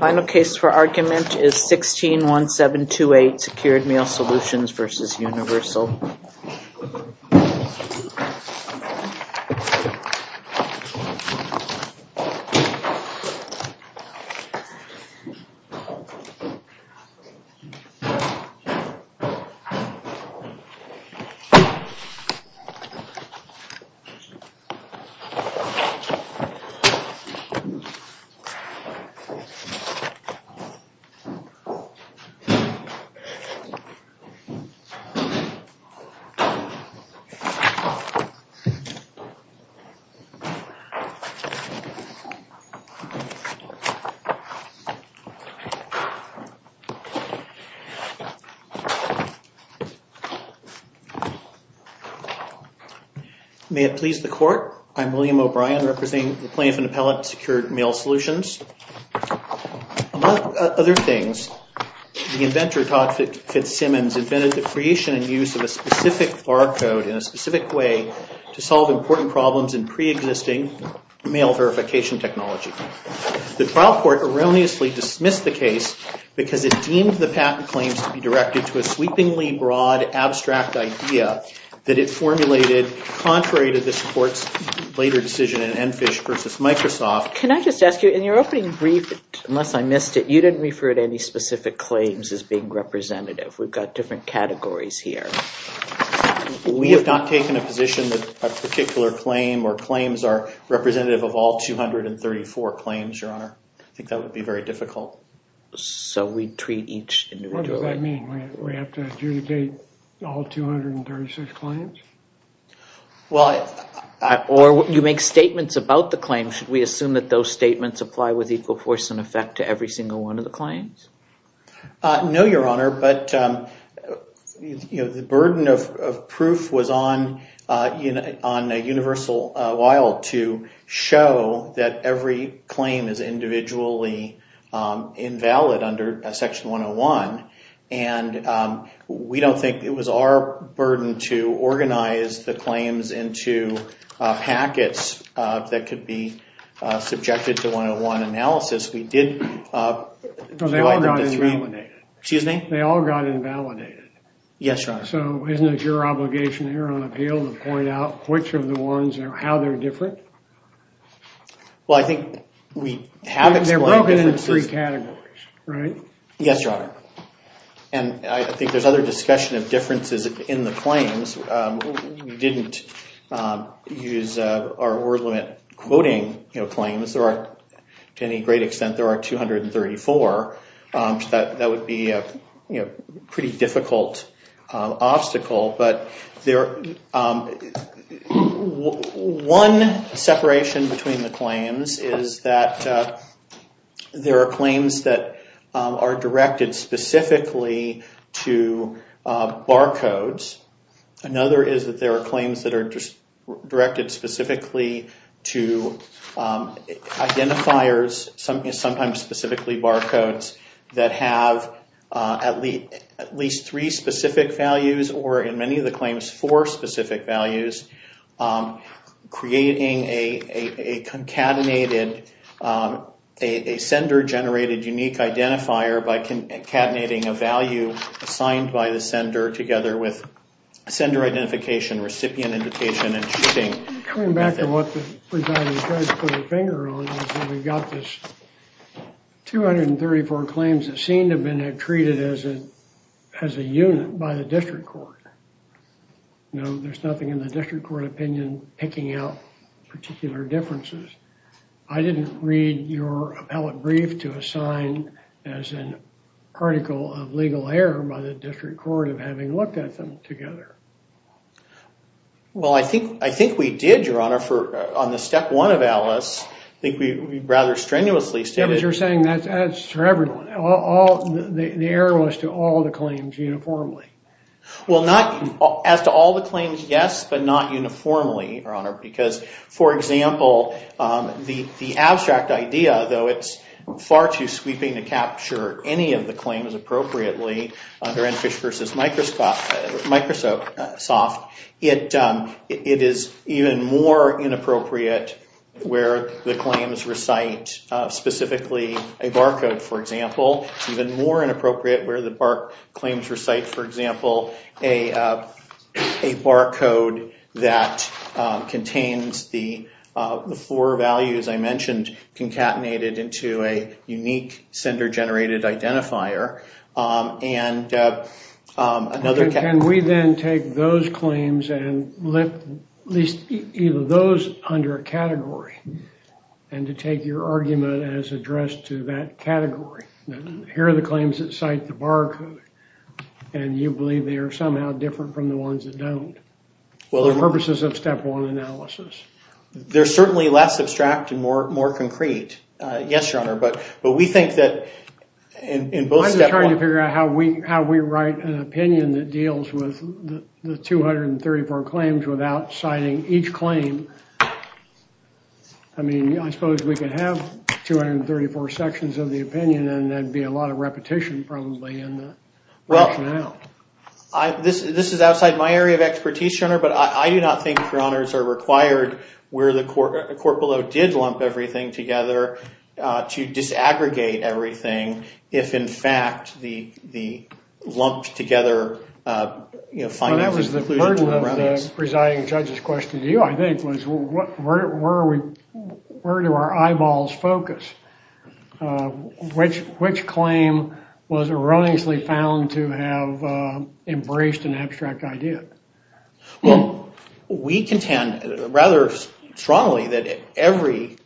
Final case for argument is 161728 Secured Mail Solutions v. Universal. May it please the court, I'm William O'Brien representing the plaintiff and appellate at Secured Mail Solutions. Among other things, the inventor, Todd Fitzsimmons, invented the creation and use of a specific barcode in a specific way to solve important problems in preexisting mail verification technology. The trial court erroneously dismissed the case because it deemed the patent claims to be directed to a sweepingly broad abstract idea that it formulated contrary to this court's later decision in Enfish v. Microsoft. Can I just ask you, in your opening brief, unless I missed it, you didn't refer to any specific claims as being representative. We've got different categories here. We have not taken a position that a particular claim or claims are representative of all 234 claims, Your Honor. I think that would be very difficult. So we treat each individually. What does that mean? We have to adjudicate all 236 claims? Or you make statements about the claims. Should we assume that those statements apply with equal force and effect to every single one of the claims? No, Your Honor, but the burden of proof was on a universal a while to show that every claim is individually invalid under Section 101, and we don't think it was our burden to organize the claims into packets that could be subjected to one-on-one analysis. We did divide them into three. But they all got invalidated. Excuse me? They all got invalidated. Yes, Your Honor. So isn't it your obligation here on appeal to point out which of the ones or how they're different? Well, I think we have explained differences. They're broken into three categories, right? Yes, Your Honor. And I think there's other discussion of differences in the claims. We didn't use our word limit quoting claims. To any great extent, there are 234. That would be a pretty difficult obstacle. But one separation between the claims is that there are claims that are directed specifically to barcodes. Another is that there are claims that are directed specifically to identifiers, sometimes specifically barcodes, that have at least three specific values or in many of the claims four specific values, creating a sender-generated unique identifier by concatenating a value assigned by the sender together with sender identification, recipient indication, and cheating. Coming back to what the presiding judge put a finger on, we've got this 234 claims that seem to have been treated as a unit by the district court. Now, there's nothing in the district court opinion picking out particular differences. I didn't read your appellate brief to assign as an article of legal error by the district court of having looked at them together. Well, I think we did, Your Honor. On the step one of ALICE, I think we rather strenuously stated- As you're saying, that's for everyone. The error was to all the claims uniformly. Well, not as to all the claims, yes, but not uniformly, Your Honor. Because, for example, the abstract idea, though it's far too sweeping to capture any of the soft, it is even more inappropriate where the claims recite specifically a barcode, for example. It's even more inappropriate where the claims recite, for example, a barcode that contains the four values I mentioned concatenated into a unique sender-generated identifier. Can we then take those claims and list either of those under a category and to take your argument as addressed to that category? Here are the claims that cite the barcode, and you believe they are somehow different from the ones that don't for the purposes of step one analysis. They're certainly less abstract and more concrete, yes, Your Honor. But we think that in both step one- I'm just trying to figure out how we write an opinion that deals with the 234 claims without citing each claim. I mean, I suppose we could have 234 sections of the opinion, and that'd be a lot of repetition probably in the rationale. Well, this is outside my area of expertise, Your Honor, but I do not think, Your Honors, are required where the court below did lump everything together to disaggregate everything if, in fact, the lumped together- That was the burden of the presiding judge's question to you, I think, was where do our eyeballs focus? Which claim was erroneously found to have embraced an abstract idea? Well, we contend rather strongly that every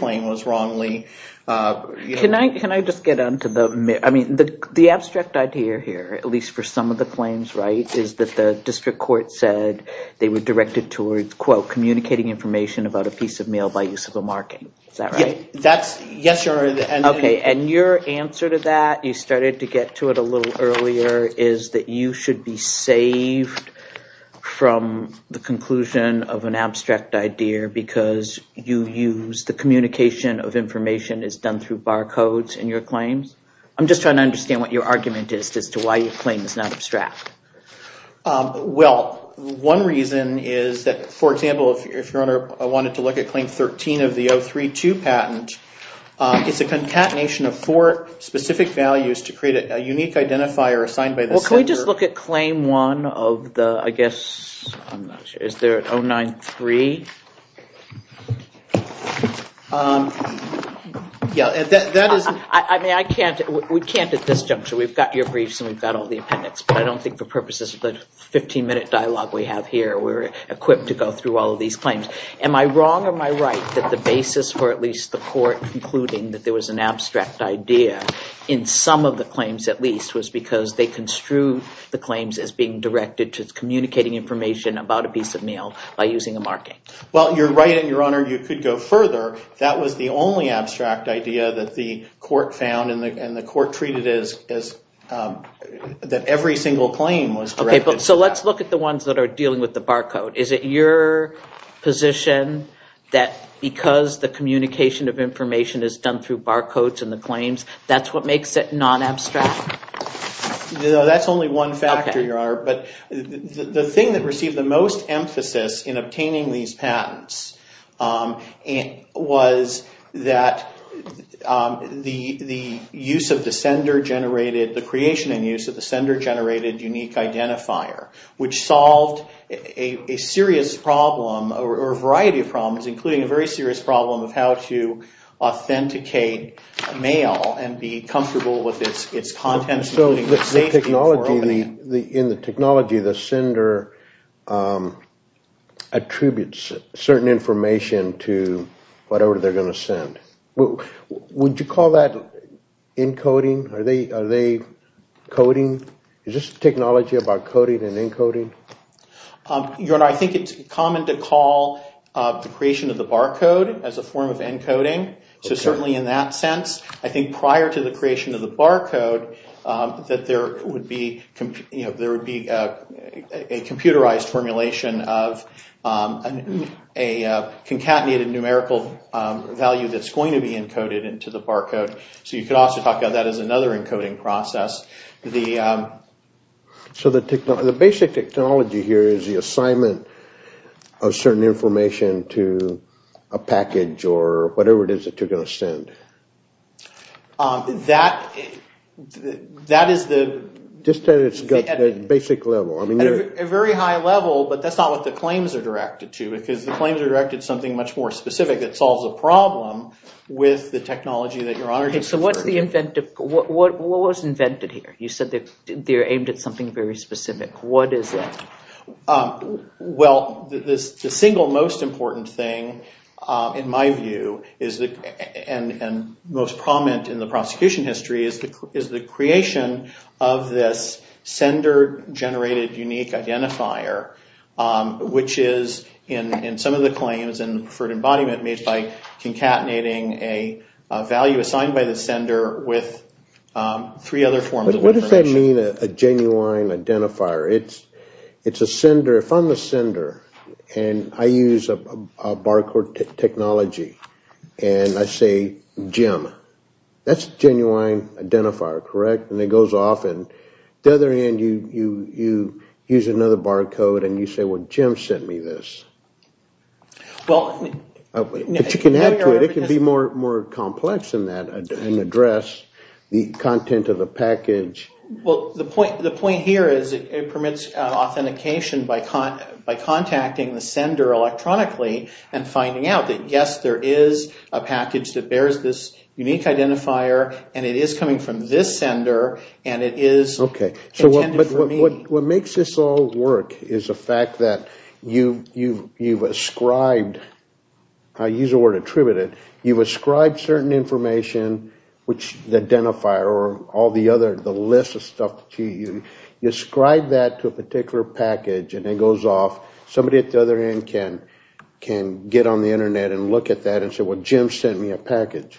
claim was wrongly- Can I just get onto the- I mean, the abstract idea here, at least for some of the claims, is that the district court said they were directed towards, quote, communicating information about a piece of mail by use of a marking. Is that right? Yes, Your Honor. Okay, and your answer to that, you started to get to it a little earlier, is that you should be saved from the conclusion of an abstract idea because you use the communication of information as done through barcodes in your claims? I'm just trying to understand what your argument is as to why your claim is not abstract. Well, one reason is that, for example, if Your Honor wanted to look at Claim 13 of the 032 patent, it's a concatenation of four specific values to create a unique identifier assigned by the- Well, can we just look at Claim 1 of the, I guess, I'm not sure, is there an 093? Yeah, that is- I mean, we can't at this juncture. We've got your briefs and we've got all the appendix, but I don't think for purposes of the 15-minute dialogue we have here, we're equipped to go through all of these claims. Am I wrong or am I right that the basis for at least the court concluding that there was an abstract idea in some of the claims at least was because they construed the claims as being directed to communicating information about a piece of mail by using a marking? Well, you're right and, Your Honor, you could go further. That was the only abstract idea that the court found and the court treated it as that every single claim was directed. Okay, so let's look at the ones that are dealing with the barcode. Is it your position that because the communication of information is done through barcodes in the claims, that's what makes it non-abstract? No, that's only one factor, Your Honor, but the thing that received the most emphasis in obtaining these patents was that the use of the sender-generated, the creation and use of the sender-generated unique identifier, which solved a serious problem or a variety of problems, including a very serious problem of how to authenticate mail and be comfortable with its contents. So in the technology, the sender attributes certain information to whatever they're going to send. Would you call that encoding? Are they coding? Is this technology about coding and encoding? Your Honor, I think it's common to call the creation of the barcode as a form of encoding. So certainly in that sense, I think prior to the creation of the barcode, that there would be a computerized formulation of a concatenated numerical value that's going to be encoded into the barcode. So you could also talk about that as another encoding process. So the basic technology here is the assignment of certain information to a package or whatever it is that you're going to send. That is the… Just at a basic level. At a very high level, but that's not what the claims are directed to, because the claims are directed to something much more specific that solves a problem with the technology that Your Honor just referred to. So what was invented here? You said they're aimed at something very specific. What is it? Well, the single most important thing, in my view, and most prominent in the prosecution history, is the creation of this sender-generated unique identifier, which is, in some of the claims in preferred embodiment, made by concatenating a value assigned by the sender with three other forms of information. But what does that mean, a genuine identifier? It's a sender. If I'm the sender and I use a barcode technology and I say, Jim, that's a genuine identifier, correct? And it goes off and the other end, you use another barcode and you say, well, Jim sent me this. But you can add to it. It can be more complex than that and address the content of the package. Well, the point here is it permits authentication by contacting the sender electronically and finding out that, yes, there is a package that bears this unique identifier and it is coming from this sender and it is intended for me. Okay. So what makes this all work is the fact that you've ascribed, I use the word attributed, you've ascribed certain information, which the identifier or all the other, the list of stuff, you ascribe that to a particular package and it goes off. Somebody at the other end can get on the Internet and look at that and say, well, Jim sent me a package.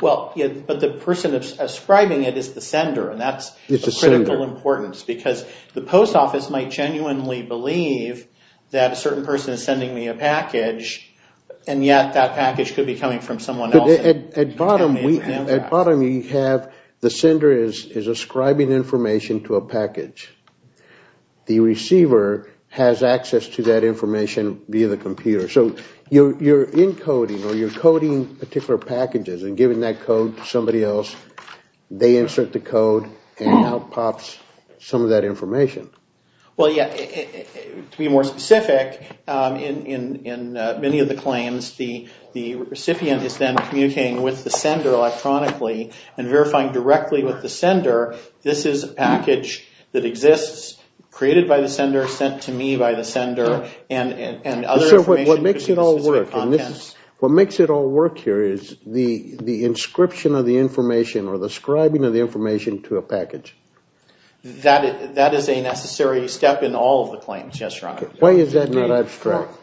Well, but the person ascribing it is the sender and that's of critical importance because the post office might genuinely believe that a certain person is sending me a package and yet that package could be coming from someone else. At bottom we have, the sender is ascribing information to a package. The receiver has access to that information via the computer. So you're encoding or you're coding particular packages and giving that code to somebody else. They insert the code and out pops some of that information. Well, yeah, to be more specific, in many of the claims, the recipient is then communicating with the sender electronically and verifying directly with the sender this is a package that exists created by the sender, that was sent to me by the sender and other information. What makes it all work here is the inscription of the information or the scribing of the information to a package. That is a necessary step in all of the claims, yes, Your Honor. Why is that not abstract?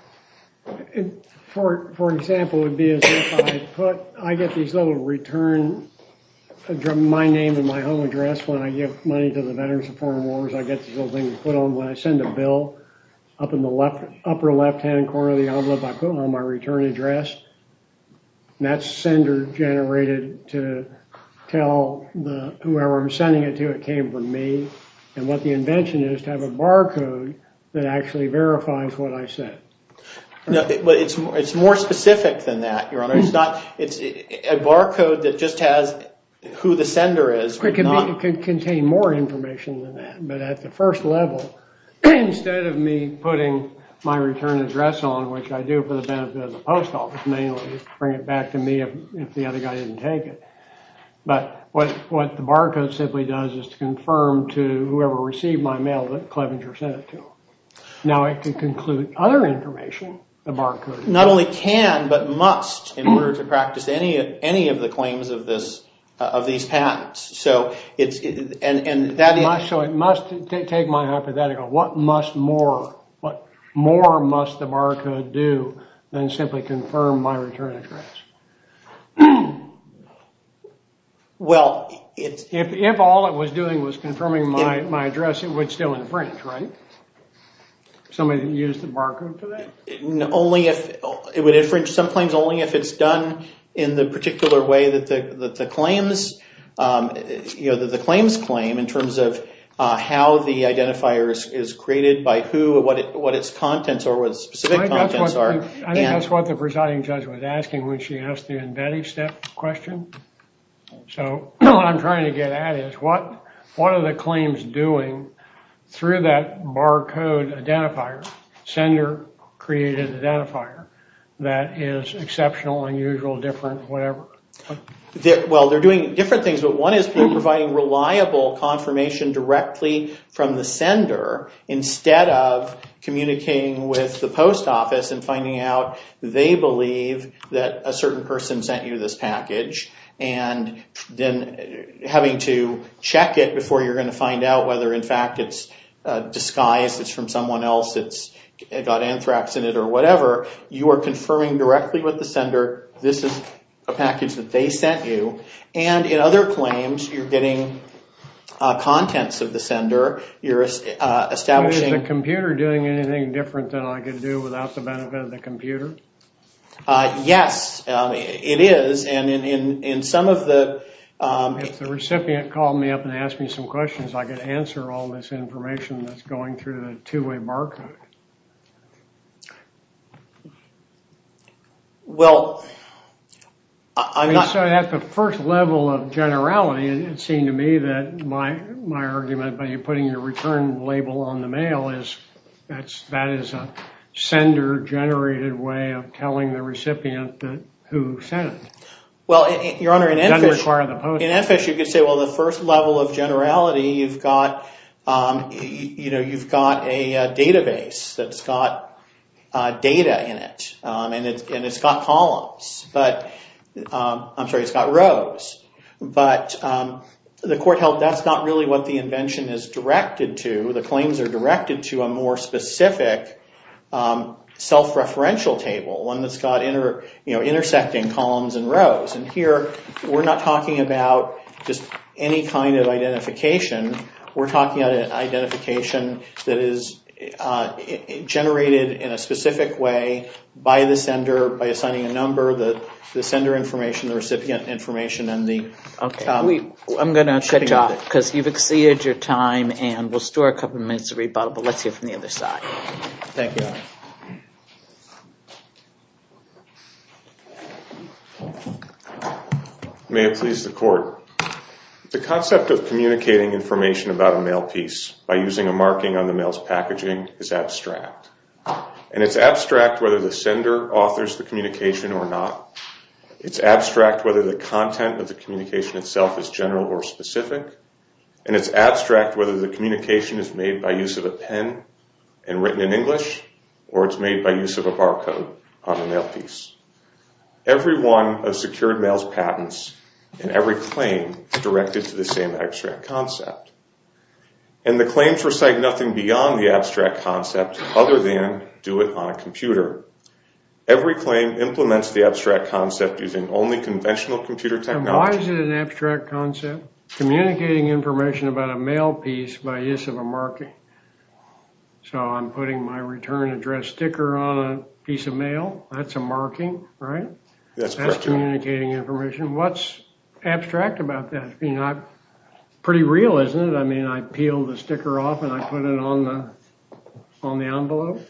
For example, it would be as if I put, I get these little return, my name and my home address when I give money to the Veterans of Foreign Wars. I get these little things put on when I send a bill. Up in the upper left-hand corner of the envelope, I put on my return address. That's sender generated to tell whoever I'm sending it to it came from me. And what the invention is to have a barcode that actually verifies what I said. But it's more specific than that, Your Honor. It's a barcode that just has who the sender is. It could contain more information than that. But at the first level, instead of me putting my return address on, which I do for the benefit of the post office mainly, to bring it back to me if the other guy didn't take it. But what the barcode simply does is to confirm to whoever received my mail that Clevenger sent it to them. Now I can conclude other information, the barcode. Not only can, but must, in order to practice any of the claims of these patents. So it must take my hypothetical. What more must the barcode do than simply confirm my return address? If all it was doing was confirming my address, it would still infringe, right? Somebody that used the barcode for that? It would infringe some claims only if it's done in the particular way that the claims the claims claim in terms of how the identifier is created by who, what its contents are, what its specific contents are. I think that's what the presiding judge was asking when she asked the embedding step question. So what I'm trying to get at is what are the claims doing through that barcode identifier, sender created identifier, that is exceptional, unusual, different, whatever? Well, they're doing different things, but one is providing reliable confirmation directly from the sender instead of communicating with the post office and finding out they believe that a certain person sent you this package and then having to check it before you're going to find out whether in fact it's disguised, it's from someone else, it's got anthrax in it or whatever. You are confirming directly with the sender this is a package that they sent you and in other claims you're getting contents of the sender, you're establishing Is the computer doing anything different than I could do without the benefit of the computer? Yes, it is and in some of the If the recipient called me up and asked me some questions I could answer all this information that's going through the two-way barcode. Well, I'm not So that's the first level of generality and it seemed to me that my argument by you putting your return label on the mail is that is a sender generated way of telling the recipient who sent it. Well, your honor, in NFISH you could say well the first level of generality you've got You've got a database that's got data in it and it's got columns I'm sorry, it's got rows but the court held that's not really what the invention is directed to. The claims are directed to a more specific self-referential table one that's got intersecting columns and rows and here we're not talking about just any kind of identification we're talking about an identification that is generated in a specific way by the sender by assigning a number, the sender information, the recipient information, and the shipping of it. I'm going to cut you off because you've exceeded your time and we'll store a couple minutes of rebuttal but let's hear from the other side. Thank you, your honor. May it please the court. The concept of communicating information about a mail piece by using a marking on the mail's packaging is abstract and it's abstract whether the sender authors the communication or not it's abstract whether the content of the communication itself is general or specific and it's abstract whether the communication is made by use of a pen and written in English or it's made by use of a barcode on the mail piece. Every one of secured mail's patents and every claim is directed to the same abstract concept and the claims recite nothing beyond the abstract concept other than do it on a computer. Every claim implements the abstract concept using only conventional computer technology. Why is it an abstract concept? Communicating information about a mail piece by use of a marking. So I'm putting my return address sticker on a piece of mail. That's a marking, right? That's communicating information. What's abstract about that? Pretty real, isn't it? I mean, I peel the sticker off and I put it on the envelope.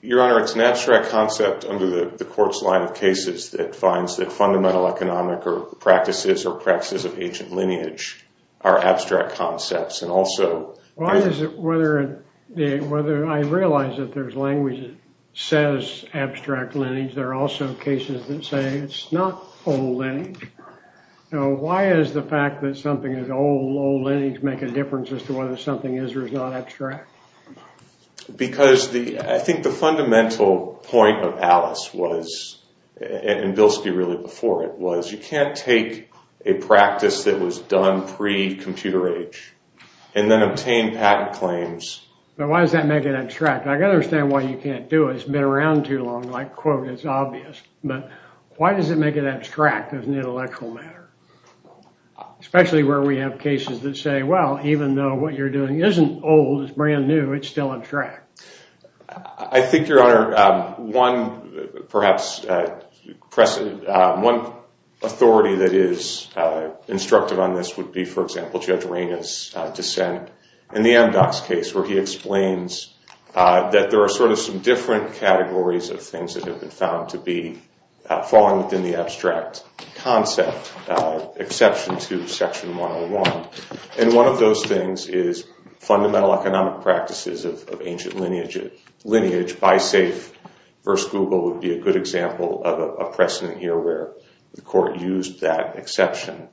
Your honor, it's an abstract concept under the court's line of cases that finds that fundamental economic practices or practices of ancient lineage are abstract concepts and also I realize that there's language that says abstract lineage. There are also cases that say it's not old lineage. Why is the fact that something is old lineage make a difference as to whether something is or is not abstract? Because I think the fundamental point of Alice was, and Bilski really before it, was you can't take a practice that was done pre-computer age and then obtain patent claims. But why does that make it abstract? I got to understand why you can't do it. It's been around too long. Like, quote, it's obvious. But why does it make it abstract as an intellectual matter? Especially where we have cases that say, well, even though what you're doing isn't old, it's brand new, it's still abstract. I think, your honor, one authority that is instructive on this would be, for example, Judge Raina's dissent in the MDOX case where he explains that there are sort of some different categories of things that have been found to be falling within the abstract concept, exception to Section 101. And one of those things is fundamental economic practices of ancient lineage. Lineage by say, versus Google, would be a good example of a precedent here where the court used that exception.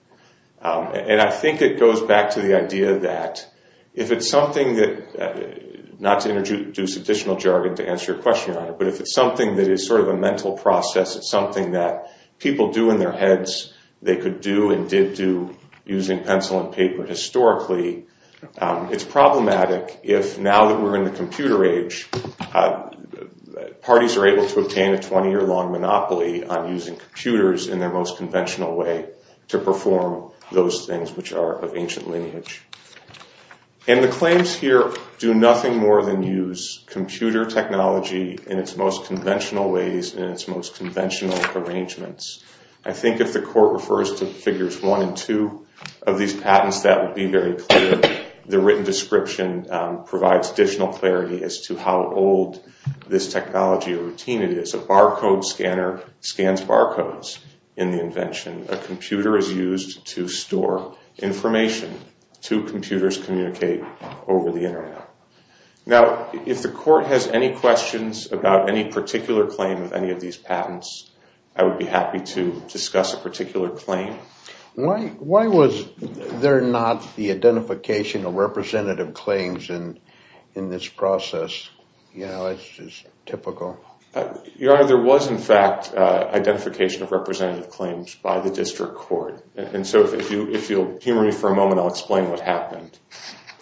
And I think it goes back to the idea that if it's something that, not to introduce additional jargon to answer your question, your honor, but if it's something that is sort of a mental process, it's something that people do in their heads, they could do and did do using pencil and paper historically, it's problematic if now that we're in the computer age, parties are able to obtain a 20-year-long monopoly on using computers in their most conventional way to perform those things which are of ancient lineage. And the claims here do nothing more than use computer technology in its most conventional ways, in its most conventional arrangements. I think if the court refers to Figures 1 and 2 of these patents, that would be very clear. The written description provides additional clarity as to how old this technology or routine it is. A barcode scanner scans barcodes in the invention. A computer is used to store information. Two computers communicate over the internet. Now, if the court has any questions about any particular claim of any of these patents, I would be happy to discuss a particular claim. Why was there not the identification of representative claims in this process? You know, it's just typical. Your Honor, there was in fact identification of representative claims by the district court. And so if you'll hear me for a moment, I'll explain what happened.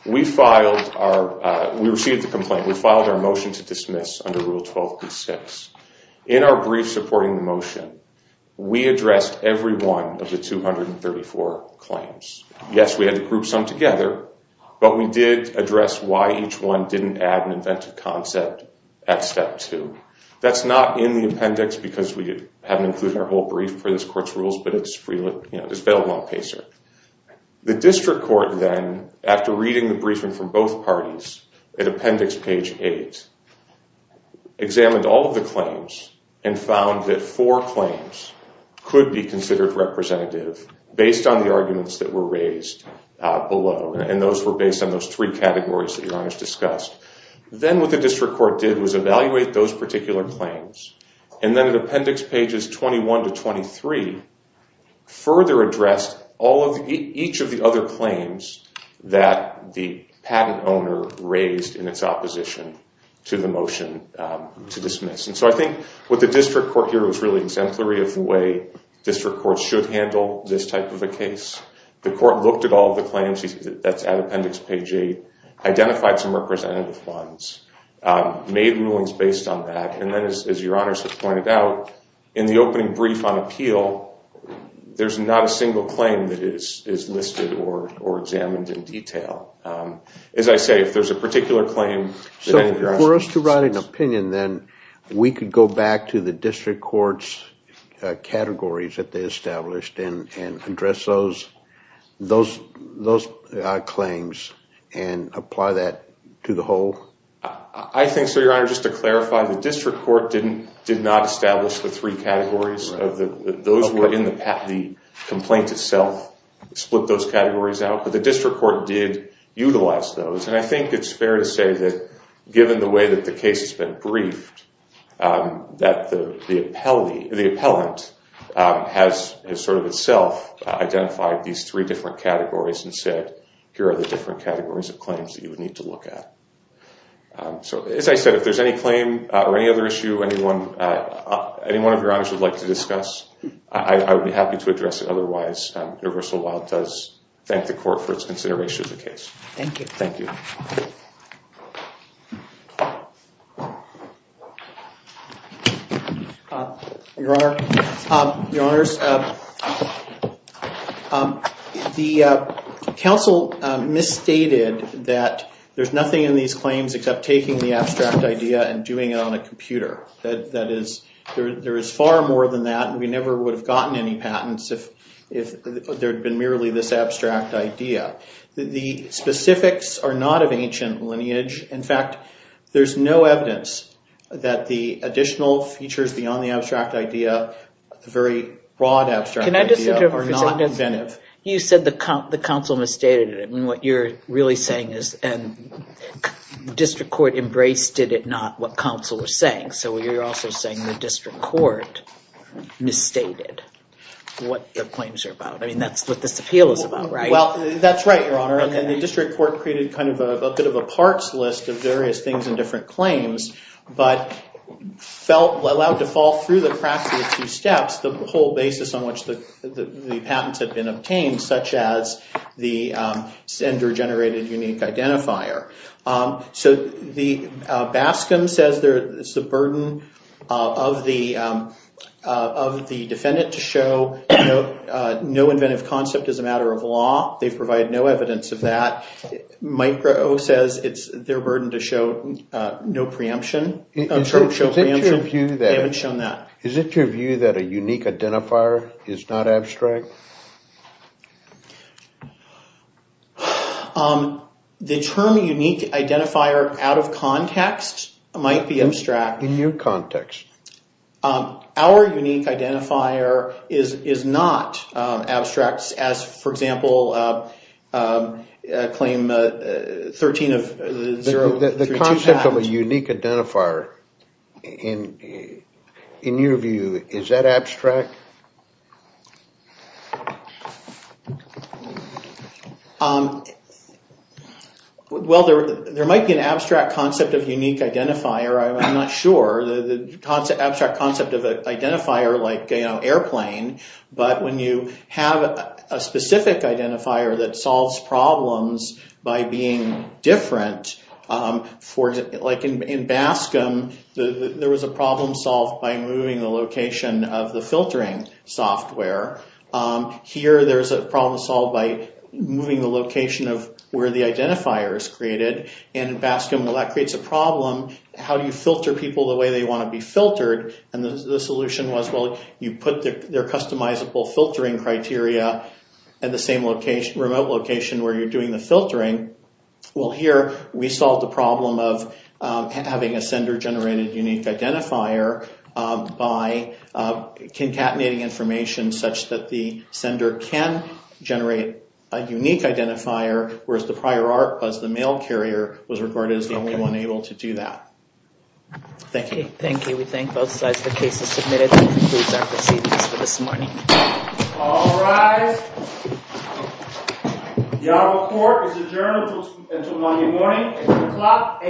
We filed our, we received the complaint, we filed our motion to dismiss under Rule 12.6. In our brief supporting the motion, we addressed every one of the 234 claims. Yes, we had to group some together, but we did address why each one didn't add an inventive concept at Step 2. That's not in the appendix because we haven't included our whole brief for this court's rules, but it's available on PACER. The district court then, after reading the briefing from both parties, at Appendix Page 8, examined all of the claims and found that four claims could be considered representative based on the arguments that were raised below. And those were based on those three categories that Your Honor has discussed. Then what the district court did was evaluate those particular claims. And then at Appendix Pages 21 to 23, further addressed each of the other claims that the patent owner raised in its opposition to the motion to dismiss. And so I think what the district court here was really exemplary of the way district courts should handle this type of a case. The court looked at all the claims, that's at Appendix Page 8, identified some representative funds, made rulings based on that, and then, as Your Honor has pointed out, in the opening brief on appeal, there's not a single claim that is listed or examined in detail. As I say, if there's a particular claim... So for us to write an opinion then, we could go back to the district court's categories that they established and address those claims and apply that to the whole? I think so, Your Honor. Just to clarify, the district court did not establish the three categories. Those were in the complaint itself, split those categories out. But the district court did utilize those. And I think it's fair to say that given the way that the case has been briefed, that the appellant has sort of itself identified these three different categories and said, here are the different categories of claims that you would need to look at. So as I said, if there's any claim or any other issue anyone of Your Honors would like to discuss, I would be happy to address it otherwise. Universal Law does thank the court for its consideration of the case. Thank you. Thank you. Your Honor, Your Honors, the counsel misstated that there's nothing in these claims except taking the abstract idea and doing it on a computer. That is, there is far more than that. We never would have gotten any patents if there had been merely this abstract idea. The specifics are not of ancient lineage. In fact, there's no evidence that the additional features beyond the abstract idea, the very broad abstract idea, are not inventive. You said the counsel misstated it. What you're really saying is the district court embraced it, not what counsel was saying. So you're also saying the district court misstated what the claims are about. I mean, that's what this appeal is about, right? Well, that's right, Your Honor. And the district court created kind of a bit of a parts list of various things and different claims, but allowed to fall through the cracks of the two steps the whole basis on which the patents had been obtained, such as the gender-generated unique identifier. So Baskin says it's the burden of the defendant to show no inventive concept as a matter of law. They provide no evidence of that. Micro says it's their burden to show no preemption. They haven't shown that. Is it your view that a unique identifier is not abstract? Thank you. The term unique identifier out of context might be abstract. In your context. Our unique identifier is not abstract, as, for example, claim 13 of 032 Patent. The concept of a unique identifier, in your view, is that abstract? Well, there might be an abstract concept of unique identifier. I'm not sure. The abstract concept of an identifier like airplane, but when you have a specific identifier that solves problems by being different, like in Baskin, there was a problem solved by moving the location of the filtering software. Here, there's a problem solved by moving the location of where the identifier is created. In Baskin, that creates a problem. How do you filter people the way they want to be filtered? And the solution was, well, you put their customizable filtering criteria at the same remote location where you're doing the filtering. Well, here, we solved the problem of having a sender-generated unique identifier by concatenating information such that the sender can generate a unique identifier, whereas the prior art was the mail carrier was regarded as the only one able to do that. Thank you. Thank you. We thank both sides for cases submitted. That concludes our proceedings for this morning. All rise. The Honorable Court is adjourned until Monday morning at 3 o'clock a.m.